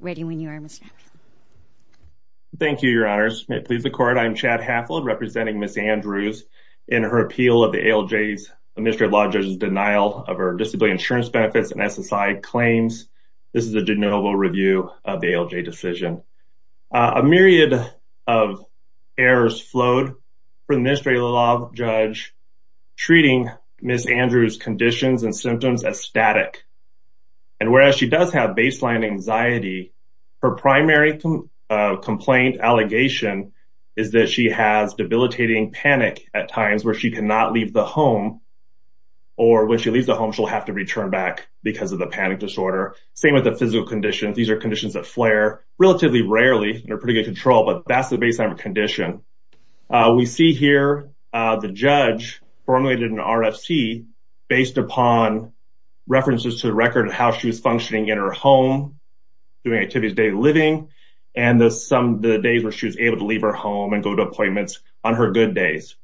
Ready when you are, Mr. Haffold. Thank you, Your Honors. May it please the Court, I'm Chad Haffold representing Ms. Andrews in her appeal of the ALJ's, the Administrative Law Judge's, denial of her disability insurance benefits and SSI claims. This is a de novo review of the ALJ decision. A myriad of errors flowed for the Administrative Law Judge treating Ms. Andrews' conditions and symptoms as static. And whereas she does have baseline anxiety, her primary complaint allegation is that she has debilitating panic at times where she cannot leave the home, or when she leaves the home she'll have to return back because of the panic disorder. Same with the physical conditions. These are conditions that flare relatively rarely. They're pretty good control, but that's the baseline of a condition. We see here the judge formulated an RFC based upon references to the record of how she was functioning in her home, doing activities day-to-day living, and some of the days where she was able to leave her home and go to appointments on her good days.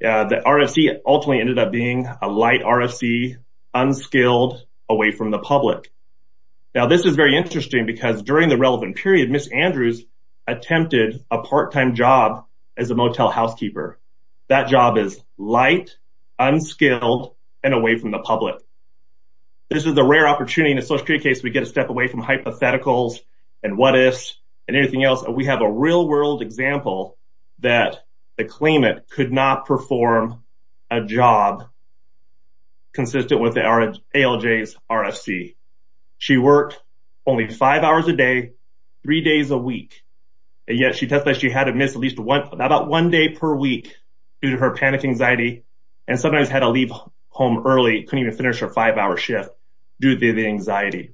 The RFC ultimately ended up being a light RFC, unskilled, away from the public. Now this is very interesting because during the period Ms. Andrews attempted a part-time job as a motel housekeeper. That job is light, unskilled, and away from the public. This is a rare opportunity in a social security case we get a step away from hypotheticals and what-ifs and anything else. We have a real-world example that the claimant could not perform a job consistent with the ALJ's RFC. She worked only five hours a day, three days a week, and yet she testified she had to miss at least one about one day per week due to her panic anxiety and sometimes had to leave home early, couldn't even finish her five-hour shift due to the anxiety.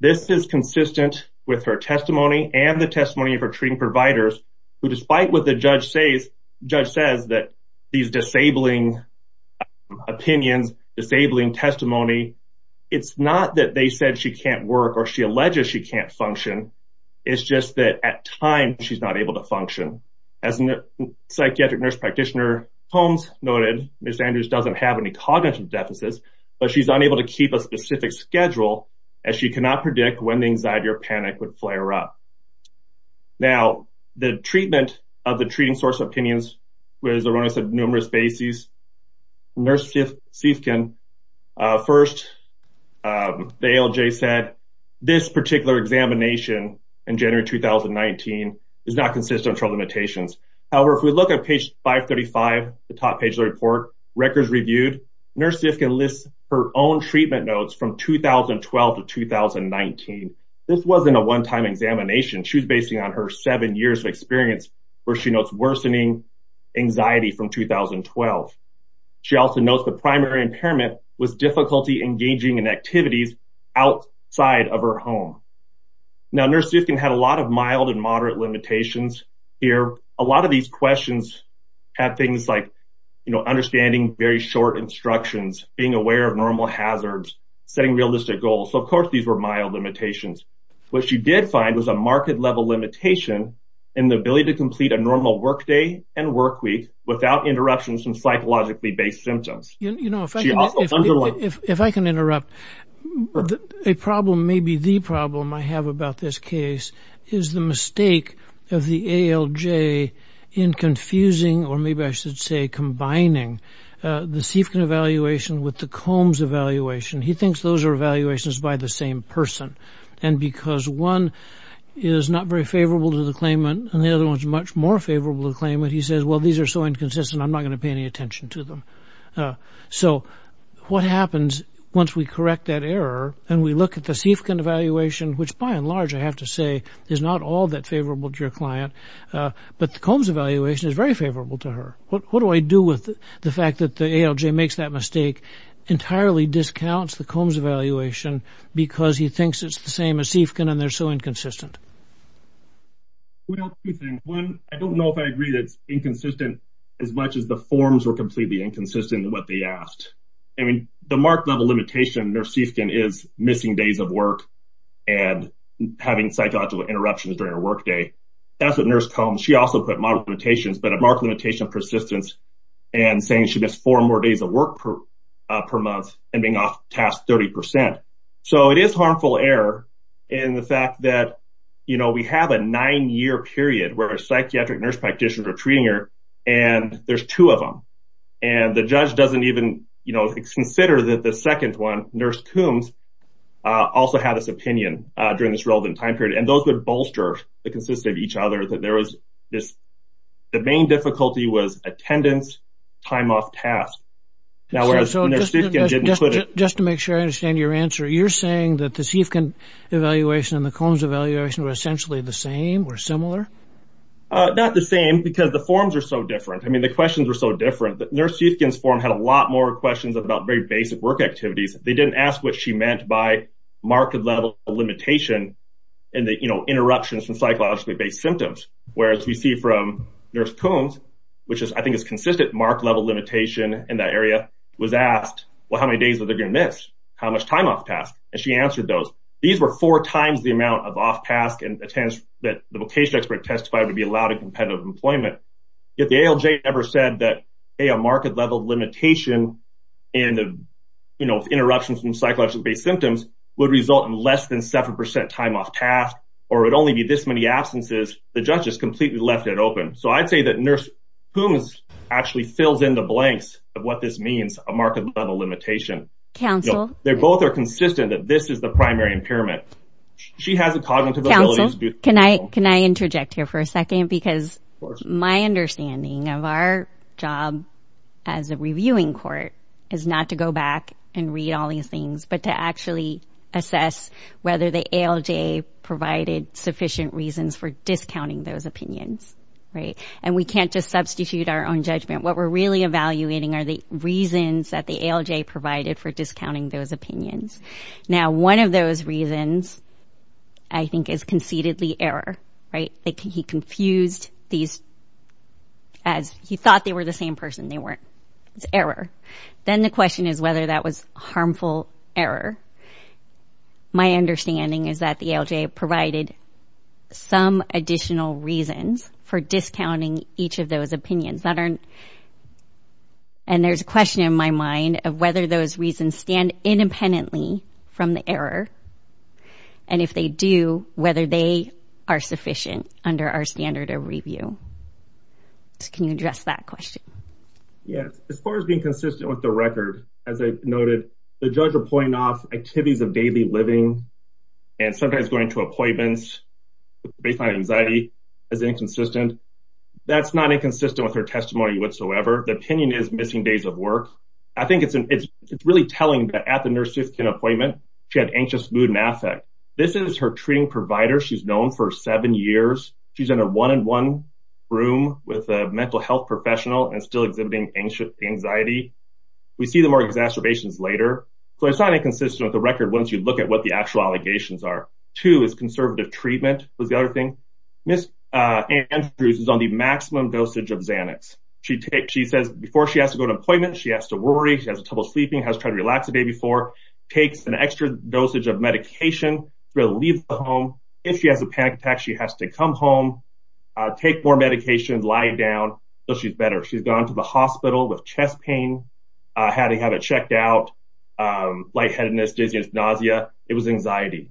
This is consistent with her testimony and the testimony of her treating providers who despite what the judge says that these disabling opinions, disabling testimony, it's not that they said she can't work or she alleges she can't function, it's just that at time she's not able to function. As a psychiatric nurse practitioner Holmes noted, Ms. Andrews doesn't have any cognitive deficits but she's unable to keep a specific schedule as she cannot predict when the anxiety or panic would flare up. Now the treatment of the treating source opinions was erroneous at numerous bases. Nurse Siefkin first, the ALJ said this particular examination in January 2019 is not consistent with her limitations. However, if we look at page 535, the top page of the report, records reviewed, Nurse Siefkin lists her own treatment notes from 2012 to 2019. This wasn't a one-time examination. She was basing on her seven years of experience where she notes worsening anxiety from 2012. She also notes the primary impairment was difficulty engaging in activities outside of her home. Now Nurse Siefkin had a lot of mild and moderate limitations here. A lot of these questions have things like, you know, understanding very short instructions, being aware of normal hazards, setting realistic goals. So of course these were mild limitations. What she did find was a marked level limitation in the ability to complete a normal workday and work without interruptions from psychologically based symptoms. If I can interrupt, a problem, maybe the problem I have about this case, is the mistake of the ALJ in confusing, or maybe I should say combining, the Siefkin evaluation with the Combs evaluation. He thinks those are evaluations by the same person and because one is not very favorable to the claimant and the other one's much favorable to the claimant, he says, well these are so inconsistent I'm not going to pay any attention to them. So what happens once we correct that error and we look at the Siefkin evaluation, which by and large I have to say is not all that favorable to your client, but the Combs evaluation is very favorable to her. What do I do with the fact that the ALJ makes that mistake, entirely discounts the Combs evaluation because he thinks it's the same as Siefkin and they're so inconsistent. Well, two things. One, I don't know if I agree that it's inconsistent as much as the forms were completely inconsistent in what they asked. I mean, the mark level limitation in Nurse Siefkin is missing days of work and having psychological interruptions during a workday. That's what Nurse Combs, she also put marked limitations, but a marked limitation of persistence and saying she missed four more days of work per month and being off task 30%. So it is harmful error in the fact that, you know, we have a nine-year period where a psychiatric nurse practitioner treating her and there's two of them and the judge doesn't even, you know, consider that the second one, Nurse Combs, also had this opinion during this relevant time period and those would bolster the consistency of each other that there was this, the main difficulty was attendance, time off task. Now, whereas Nurse Siefkin didn't put it. Just to make sure I understand your answer, you're saying that the Siefkin evaluation and the Combs evaluation were essentially the same or similar? Not the same because the forms are so different. I mean, the questions were so different that Nurse Siefkin's form had a lot more questions about very basic work activities. They didn't ask what she meant by marked level limitation and the, you know, interruptions from psychologically-based symptoms. Whereas we see from Nurse Combs, which is, I think, is consistent marked level limitation in that area, was asked, well, how many days are they going to miss? How much time off task? And she answered those. These were four times the amount of off task and attendance that the vocation expert testified to be allowed in competitive employment. Yet the ALJ never said that, hey, a marked level limitation and, you know, interruptions from psychologically-based symptoms would result in less than 7% time off task or it'd only be this many absences. The judge has completely left it open. So I'd say that Nurse Combs actually fills in the blanks of what this means, a marked level limitation. They both are consistent that this is the primary impairment. She has a cognitive ability. Can I interject here for a second because my understanding of our job as a reviewing court is not to go back and read all these things, but to actually assess whether the ALJ provided sufficient reasons for discounting those opinions, right? And we can't just substitute our own judgment. What we're really evaluating are the reasons that the ALJ provided for discounting those opinions. Now, one of those reasons, I think, is concededly error, right? He confused these as he thought they were the same person. They weren't. It's error. Then the question is whether that was harmful error. My understanding is that the ALJ provided some additional reasons for discounting each of those opinions. And there's a question in my mind of whether those reasons stand independently from the error. And if they do, whether they are sufficient under our standard of review. Can you address that question? Yes. As far as being consistent with the record, as I noted, the judge will point off activities of daily living and sometimes going to appointments based on anxiety as inconsistent. That's not inconsistent with her testimony whatsoever. The opinion is missing days of work. I think it's really telling that at the nurse-suits-kin appointment, she had anxious mood and affect. This is her treating provider. She's known for seven years. She's in a one-in-one room with a mental health professional and still exhibiting anxiety. We see the more exacerbations later. So it's not inconsistent with the record once you look at what the actual allegations are. Two is conservative treatment was the other thing. Ms. Andrews is on the maximum dosage of Xanax. She says before she has to go to an appointment, she has to worry. She has trouble sleeping, has tried to relax the day before, takes an extra dosage of medication to leave the home. If she has a panic attack, she has to come home, take more medications, lie down, so she's better. She's gone to the hospital with chest pain, had to have it checked out, lightheadedness, dizziness, nausea. It was anxiety.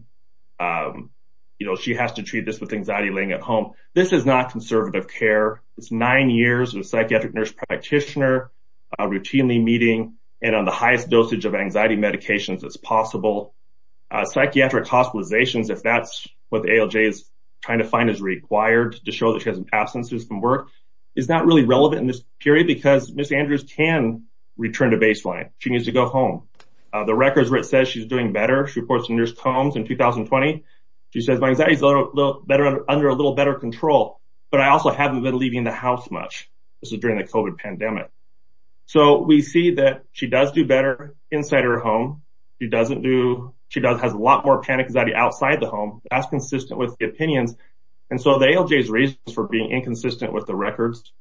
You know, she has to treat this with anxiety laying at home. This is not conservative care. It's nine years of a psychiatric nurse practitioner routinely meeting and on the highest dosage of anxiety medications as possible. Psychiatric hospitalizations, if that's what ALJ is trying to find is required to show that absence from work is not really relevant in this period because Ms. Andrews can return to baseline. She needs to go home. The records where it says she's doing better, she reports the nearest homes in 2020. She says my anxiety is under a little better control, but I also haven't been leaving the house much. This is during the COVID pandemic. So we see that she does do better inside her home. She doesn't do, she does have a lot more panic anxiety outside the home. That's consistent with the opinions and so the ALJ's reasons for being inconsistent with the records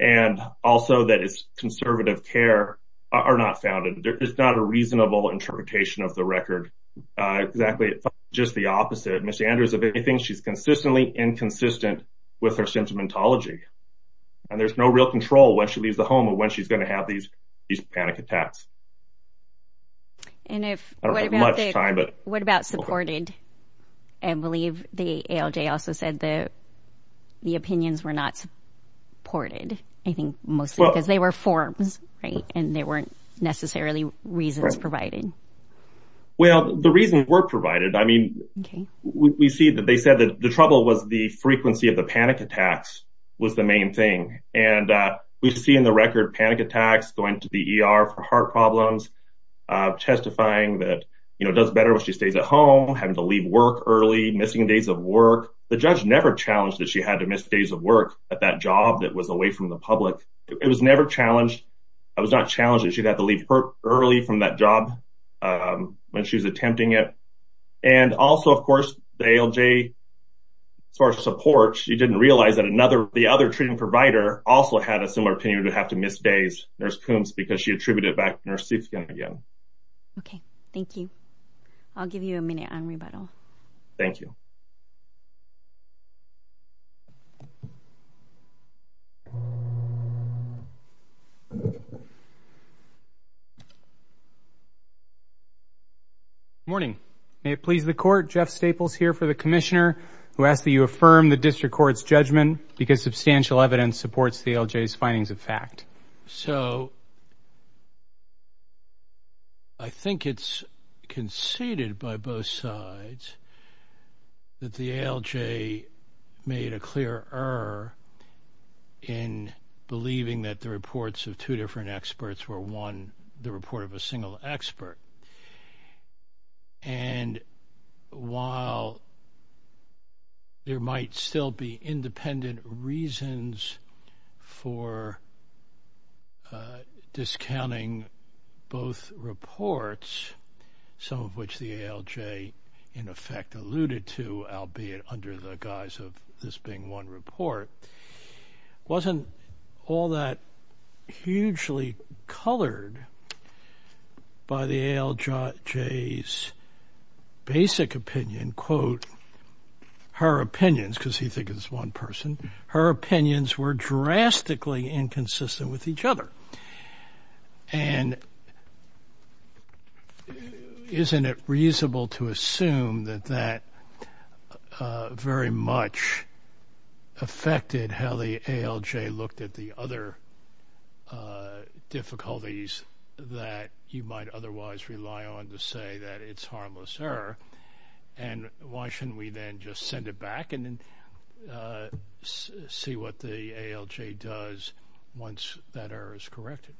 and also that it's conservative care are not founded. There is not a reasonable interpretation of the record. Exactly, it's just the opposite. Ms. Andrews, if anything, she's consistently inconsistent with her sentimentology and there's no real control when she leaves the home of when she's going to have these panic attacks. And what about supported? I believe the ALJ also said that the opinions were not supported. I think mostly because they were forms, right, and there weren't necessarily reasons provided. Well, the reasons were provided. I mean, we see that they said that the trouble was the frequency of the panic attacks was the main thing and we see in the record panic attacks going to the ER for heart problems, testifying that, you know, does better when she stays at home, having to leave work early, missing days of work. The judge never challenged that she had to miss days of work at that job that was away from the public. It was never challenged. It was not challenged that she had to leave early from that job when she was attempting it. And also, of course, the ALJ, as far as support, she didn't realize that another, the other treating provider also had a similar opinion to have to miss days, Nurse Coombs, because she attributed it back to Nurse Siefkien again. Okay, thank you. I'll give you a minute on rebuttal. Thank you. Morning. May it please the Court, Jeff Staples here for the Commissioner, who asks that you affirm the District Court's judgment because substantial evidence supports the ALJ's findings of fact. So, I think it's conceded by both sides that the ALJ made a clear error in believing that the reports of two different experts were one, the report of a single expert, and while there might still be independent reasons for discounting both reports, some of which the ALJ, in effect, alluded to, albeit under the guise of this being one report, wasn't all that hugely colored by the ALJ's basic opinion, quote, her opinions, because he think it's one person, her opinions were drastically inconsistent with each other, and isn't it reasonable to assume that that very much affected how the ALJ looked at the other difficulties that you might otherwise rely on to say that it's harmless error, and why shouldn't we then just send it back and see what the ALJ does once that error is corrected?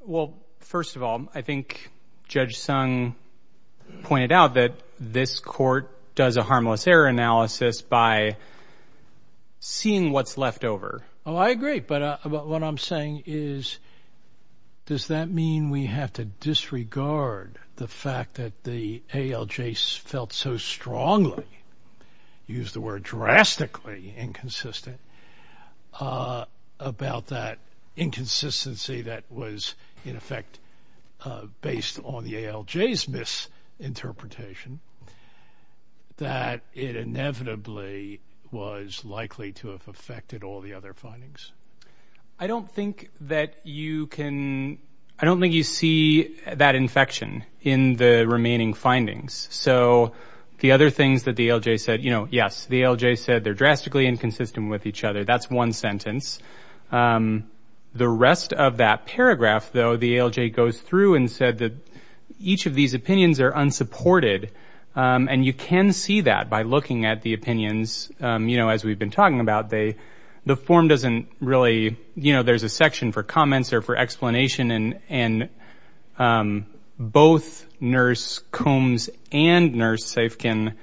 Well, first of all, I think Judge Sung pointed out that this Court does a harmless error analysis by seeing what's left over. Oh, I agree, but what I'm saying is, does that mean we have to disregard the fact that the ALJ felt so strongly, used the word drastically inconsistent, about that inconsistency that was, in effect, based on the ALJ's misinterpretation, that it inevitably was likely to have affected all the other findings? I don't think that you can, I don't think you see that infection in the remaining findings. So, the other things that the ALJ said, you know, yes, the ALJ said they're drastically inconsistent with each other, that's one sentence. The rest of that paragraph, though, the ALJ goes through and said that each of these opinions are unsupported, and you can see that by looking at the opinions, you know, as we've been talking about, the form doesn't really, you know, there's a section for comments or for explanation, and both Nurse Combs and Nurse Saif can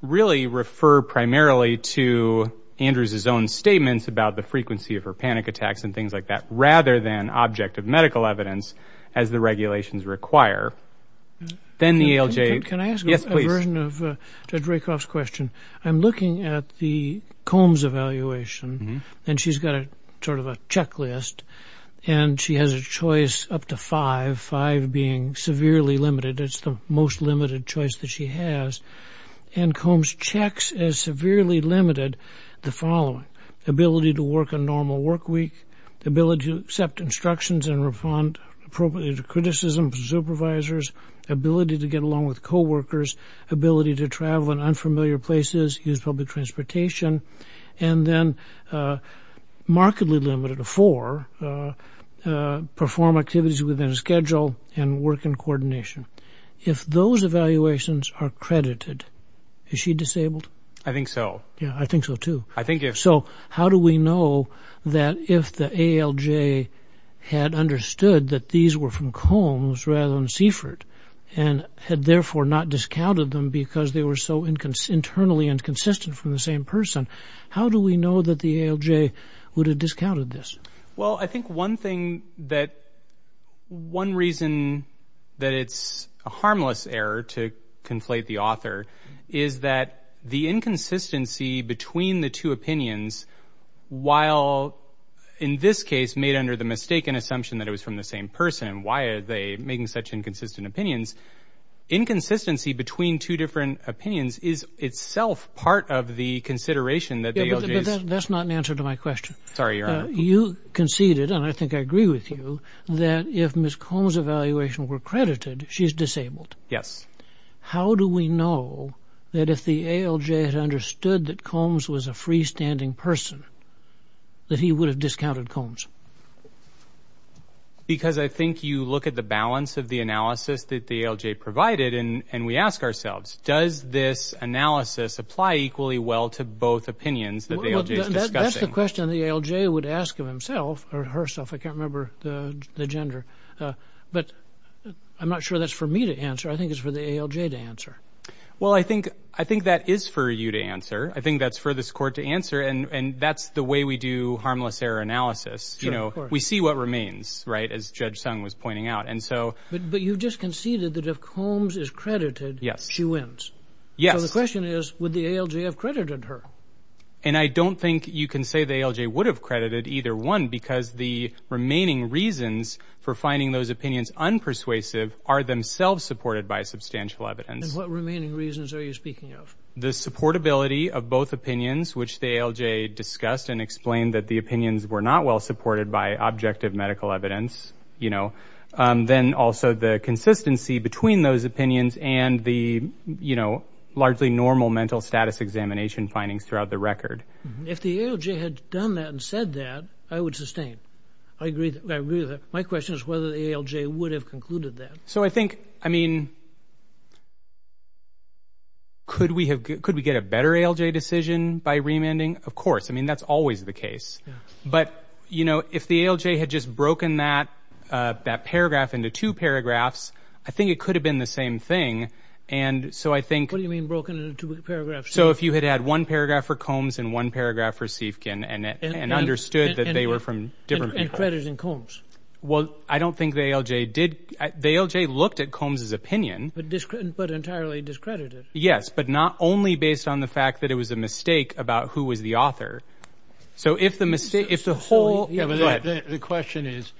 really refer primarily to Andrews' own statements about the frequency of her panic attacks and things like that, rather than object of medical evidence, as the regulations require. Then the ALJ... Can I ask a version of Judge Rakoff's question? I'm looking at the Combs evaluation, and she's got a sort of a checklist, and she has a choice up to five, five being severely limited, it's the most limited choice that she has. And Combs checks as severely limited the following, ability to work a normal work week, ability to accept instructions and respond appropriately to criticism from supervisors, ability to get along with co-workers, ability to travel in familiar places, use public transportation, and then markedly limited to four, perform activities within a schedule, and work in coordination. If those evaluations are credited, is she disabled? I think so. Yeah, I think so too. I think if... So, how do we know that if the ALJ had understood that these were from Combs rather than Seifert, and had therefore not discounted them because they were so internally inconsistent from the same person, how do we know that the ALJ would have discounted this? Well, I think one thing that... One reason that it's a harmless error to conflate the author is that the inconsistency between the two opinions, while in this case made under the mistaken assumption that it was from the same person, why are they making such inconsistent opinions? Inconsistency between two different opinions is itself part of the consideration that the ALJ is... That's not an answer to my question. Sorry, Your Honor. You conceded, and I think I agree with you, that if Ms. Combs' evaluations were credited, she's disabled. Yes. How do we know that if the ALJ had understood that Combs was a freestanding person, that he would have discounted Combs? Because I think you look at the balance of the analysis that the ALJ provided, and we ask ourselves, does this analysis apply equally well to both opinions that the ALJ is discussing? That's the question the ALJ would ask of himself, or herself, I can't remember the gender, but I'm not sure that's for me to answer. I think it's for the ALJ to answer. Well, I think that is for you to answer. I think that's for this Court to answer, and that's the way we do harmless error analysis. We see what remains, right, as Judge Sung was pointing out. But you've just conceded that if Combs is credited, she wins. Yes. So the question is, would the ALJ have credited her? And I don't think you can say the ALJ would have credited either one, because the remaining reasons for finding those opinions unpersuasive are themselves supported by substantial evidence. And what remaining reasons are you speaking of? The supportability of both opinions, which the ALJ discussed and explained that the opinions were not well supported by objective medical evidence. Then also the consistency between those opinions and the largely normal mental status examination findings throughout the record. If the ALJ had done that and said that, I would sustain. My question is whether the ALJ would have concluded that. So I think, I mean, could we get a better ALJ decision by remanding? Of course. I mean, that's always the case. But, you know, if the ALJ had just broken that paragraph into two paragraphs, I think it could have been the same thing. And so I think... What do you mean broken into two paragraphs? So if you had had one paragraph for Combs and one paragraph for Siefkin and understood that they were from different people. And credited Combs. Well, I don't think the ALJ did. The ALJ looked at Combs' opinion. But entirely discredited. Yes, but not only based on the fact that it was a mistake about who was the author. So if the mistake, if the whole... Yeah, but the question is,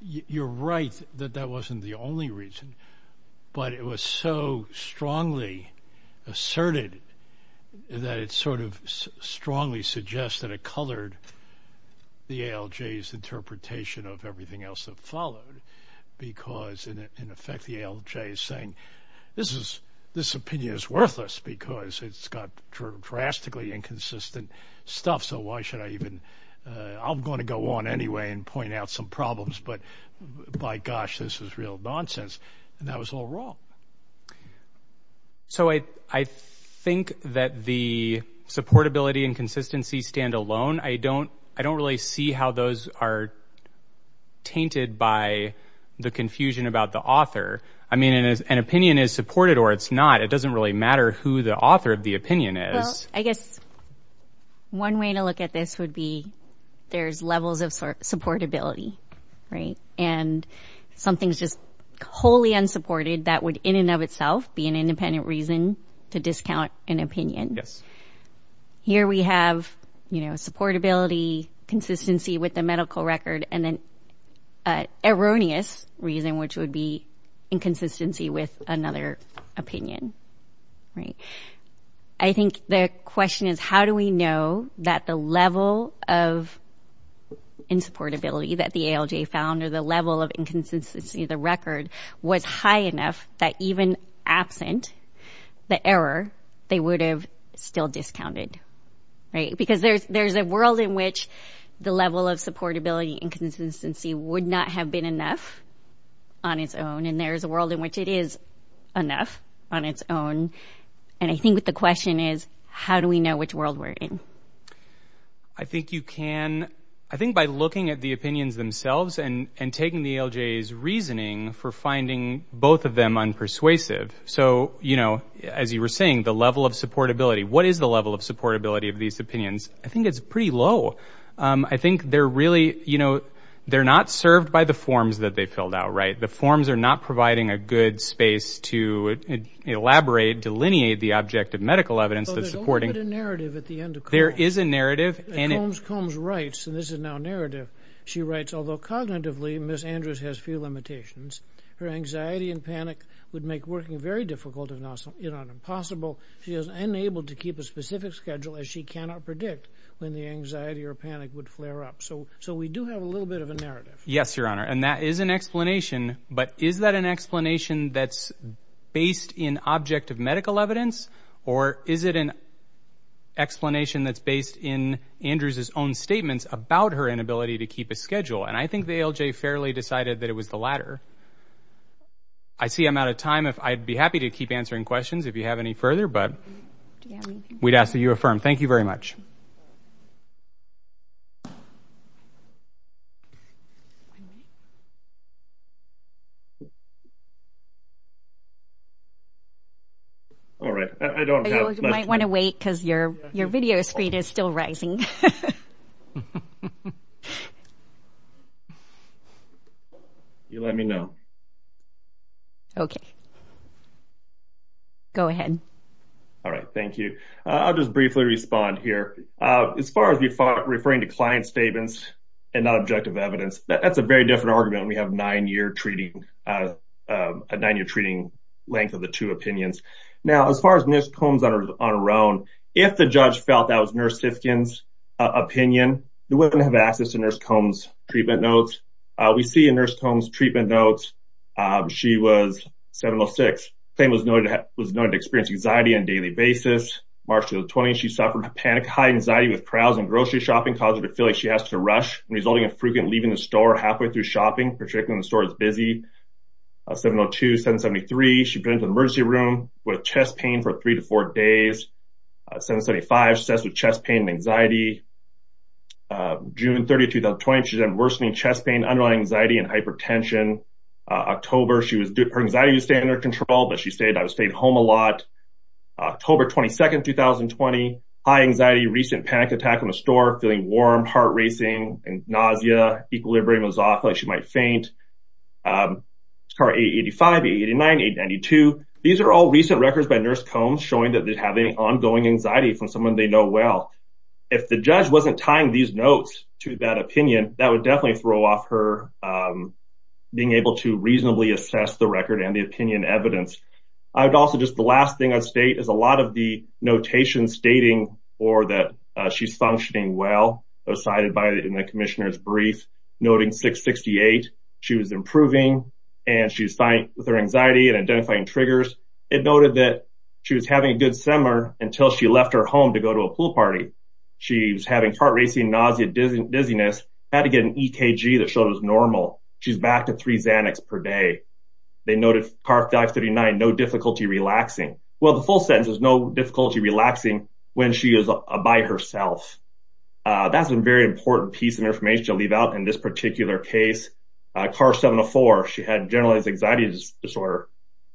you're right that that wasn't the only reason. But it was so strongly asserted that it sort of strongly suggests that it colored the ALJ's interpretation of everything else that followed. Because, in effect, the ALJ is saying, this is, this opinion is worthless because it's got drastically inconsistent stuff. So why should I even... I'm going to go on anyway and point out some problems. But, my gosh, this is real nonsense. And that was all wrong. So I think that the supportability and consistency stand alone. I don't really see how those are tainted by the confusion about the author. I mean, an opinion is supported or it's not. It doesn't really matter who the author of the opinion is. Well, I guess one way to look at this would be there's levels of supportability, right? And something's just wholly unsupported that would, in and of itself, be an independent reason to discount an opinion. Yes. Here we have, you know, supportability, consistency with the medical record, and then an erroneous reason, which would be inconsistency with another opinion, right? I think the question is, how do we know that the level of insupportability that the ALJ found or the level of inconsistency of the record was high enough that, even absent the error, they would have still discounted, right? Because there's a world in which the level of supportability and consistency would not have been enough on its own. And there's a world in which it is enough on its own. And I think that the question is, how do we know which world we're in? I think you can, I think by looking at the opinions themselves and taking the ALJ's reasoning for finding both of them unpersuasive. So, you know, as you were saying, the level of supportability. What is the level of supportability of these opinions? I think it's pretty low. I think they're really, you know, they're not served by the forms that they filled out, right? The forms are not providing a good space to elaborate, delineate the object of medical evidence that's supporting... But there's a little bit of narrative at the end of Combs. There is a narrative, and... Combs writes, and this is now narrative, she writes, although cognitively Miss Andrews has few limitations, her anxiety and panic would make working very difficult if not impossible. She is unable to keep a specific schedule, as she cannot predict when the anxiety or panic would flare up. So we do have a little bit of a narrative. Yes, Your Honor, and that is an explanation. But is that an explanation that's based in object of medical evidence? Or is it an explanation that's based in Andrews' own statements about her inability to keep a schedule? And I think the ALJ fairly decided that it was the latter. I see I'm out of time. I'd be happy to keep answering questions if you have any further, but we'd ask that you affirm. Thank you very much. All right. I don't have much time. You might want to wait because your video screen is still rising. You let me know. Okay. Go ahead. All right. Thank you. I'll just briefly respond here. As far as referring to client statements and not objective evidence, that's a very different argument. We have a nine-year treating length of the two opinions. Now, as far as Nurse Combs on her own, if the judge felt that was Nurse Hifkin's opinion, they wouldn't have access to Nurse Combs' treatment notes. We see in Nurse Combs' treatment notes, she was 706. Claim was noted to experience anxiety on a daily basis. March 2020, she suffered panic, high anxiety, with crowds and grocery shopping causing her to feel like she has to rush, resulting in frequent leaving the store halfway through shopping, particularly when the store is busy. 702, 773, she was put into the emergency room with chest pain for three to four days. 775, assessed with chest pain and anxiety. June 30, 2020, she's had worsening chest pain, underlying anxiety and hypertension. October, her anxiety was staying under control, but she said, I was staying home a lot. October 22, 2020, high anxiety, recent panic attack from a store, feeling warm, heart racing, nausea, equilibrium was off, like she might faint. 885, 889, 892. These are all recent records by Nurse Combs showing that they're having ongoing anxiety from someone they know well. If the judge wasn't tying these notes to that opinion, that would definitely throw off her being able to reasonably assess the record and the opinion evidence. I would also just, the last thing I'd state is a lot of the notation stating for that she's functioning well was cited in the commissioner's brief, noting 668, she was improving and she was fine with her anxiety and identifying triggers. It noted that she was having a good summer until she left her home to go to a pool party. She was having heart racing, nausea, dizziness, had to get an EKG that showed it was normal. She's back to three Xanax per day. They noted CARF-39, no difficulty relaxing. Well, the full sentence is no difficulty relaxing when she is by herself. That's a very important piece of information to leave out in this particular case. CARF-704, she had generalized anxiety disorder.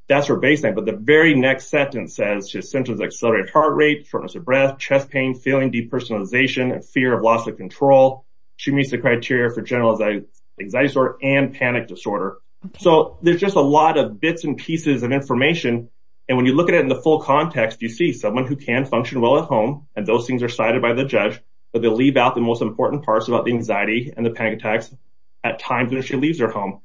That's her baseline, but the very next sentence says, accelerated heart rate, shortness of breath, chest pain, feeling depersonalization and fear of loss of control. She meets the criteria for generalized anxiety disorder and panic disorder. So there's just a lot of bits and pieces of information. And when you look at it in the full context, you see someone who can function well at home and those things are cited by the judge, but they leave out the most important parts about the anxiety and the panic attacks at times when she leaves her home.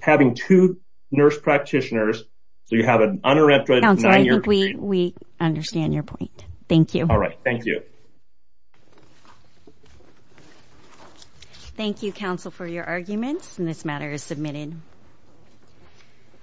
Having two nurse practitioners, you have an uninterrupted nine year period. We understand your point. Thank you. All right. Thank you. Thank you, counsel for your arguments and this matter is submitted.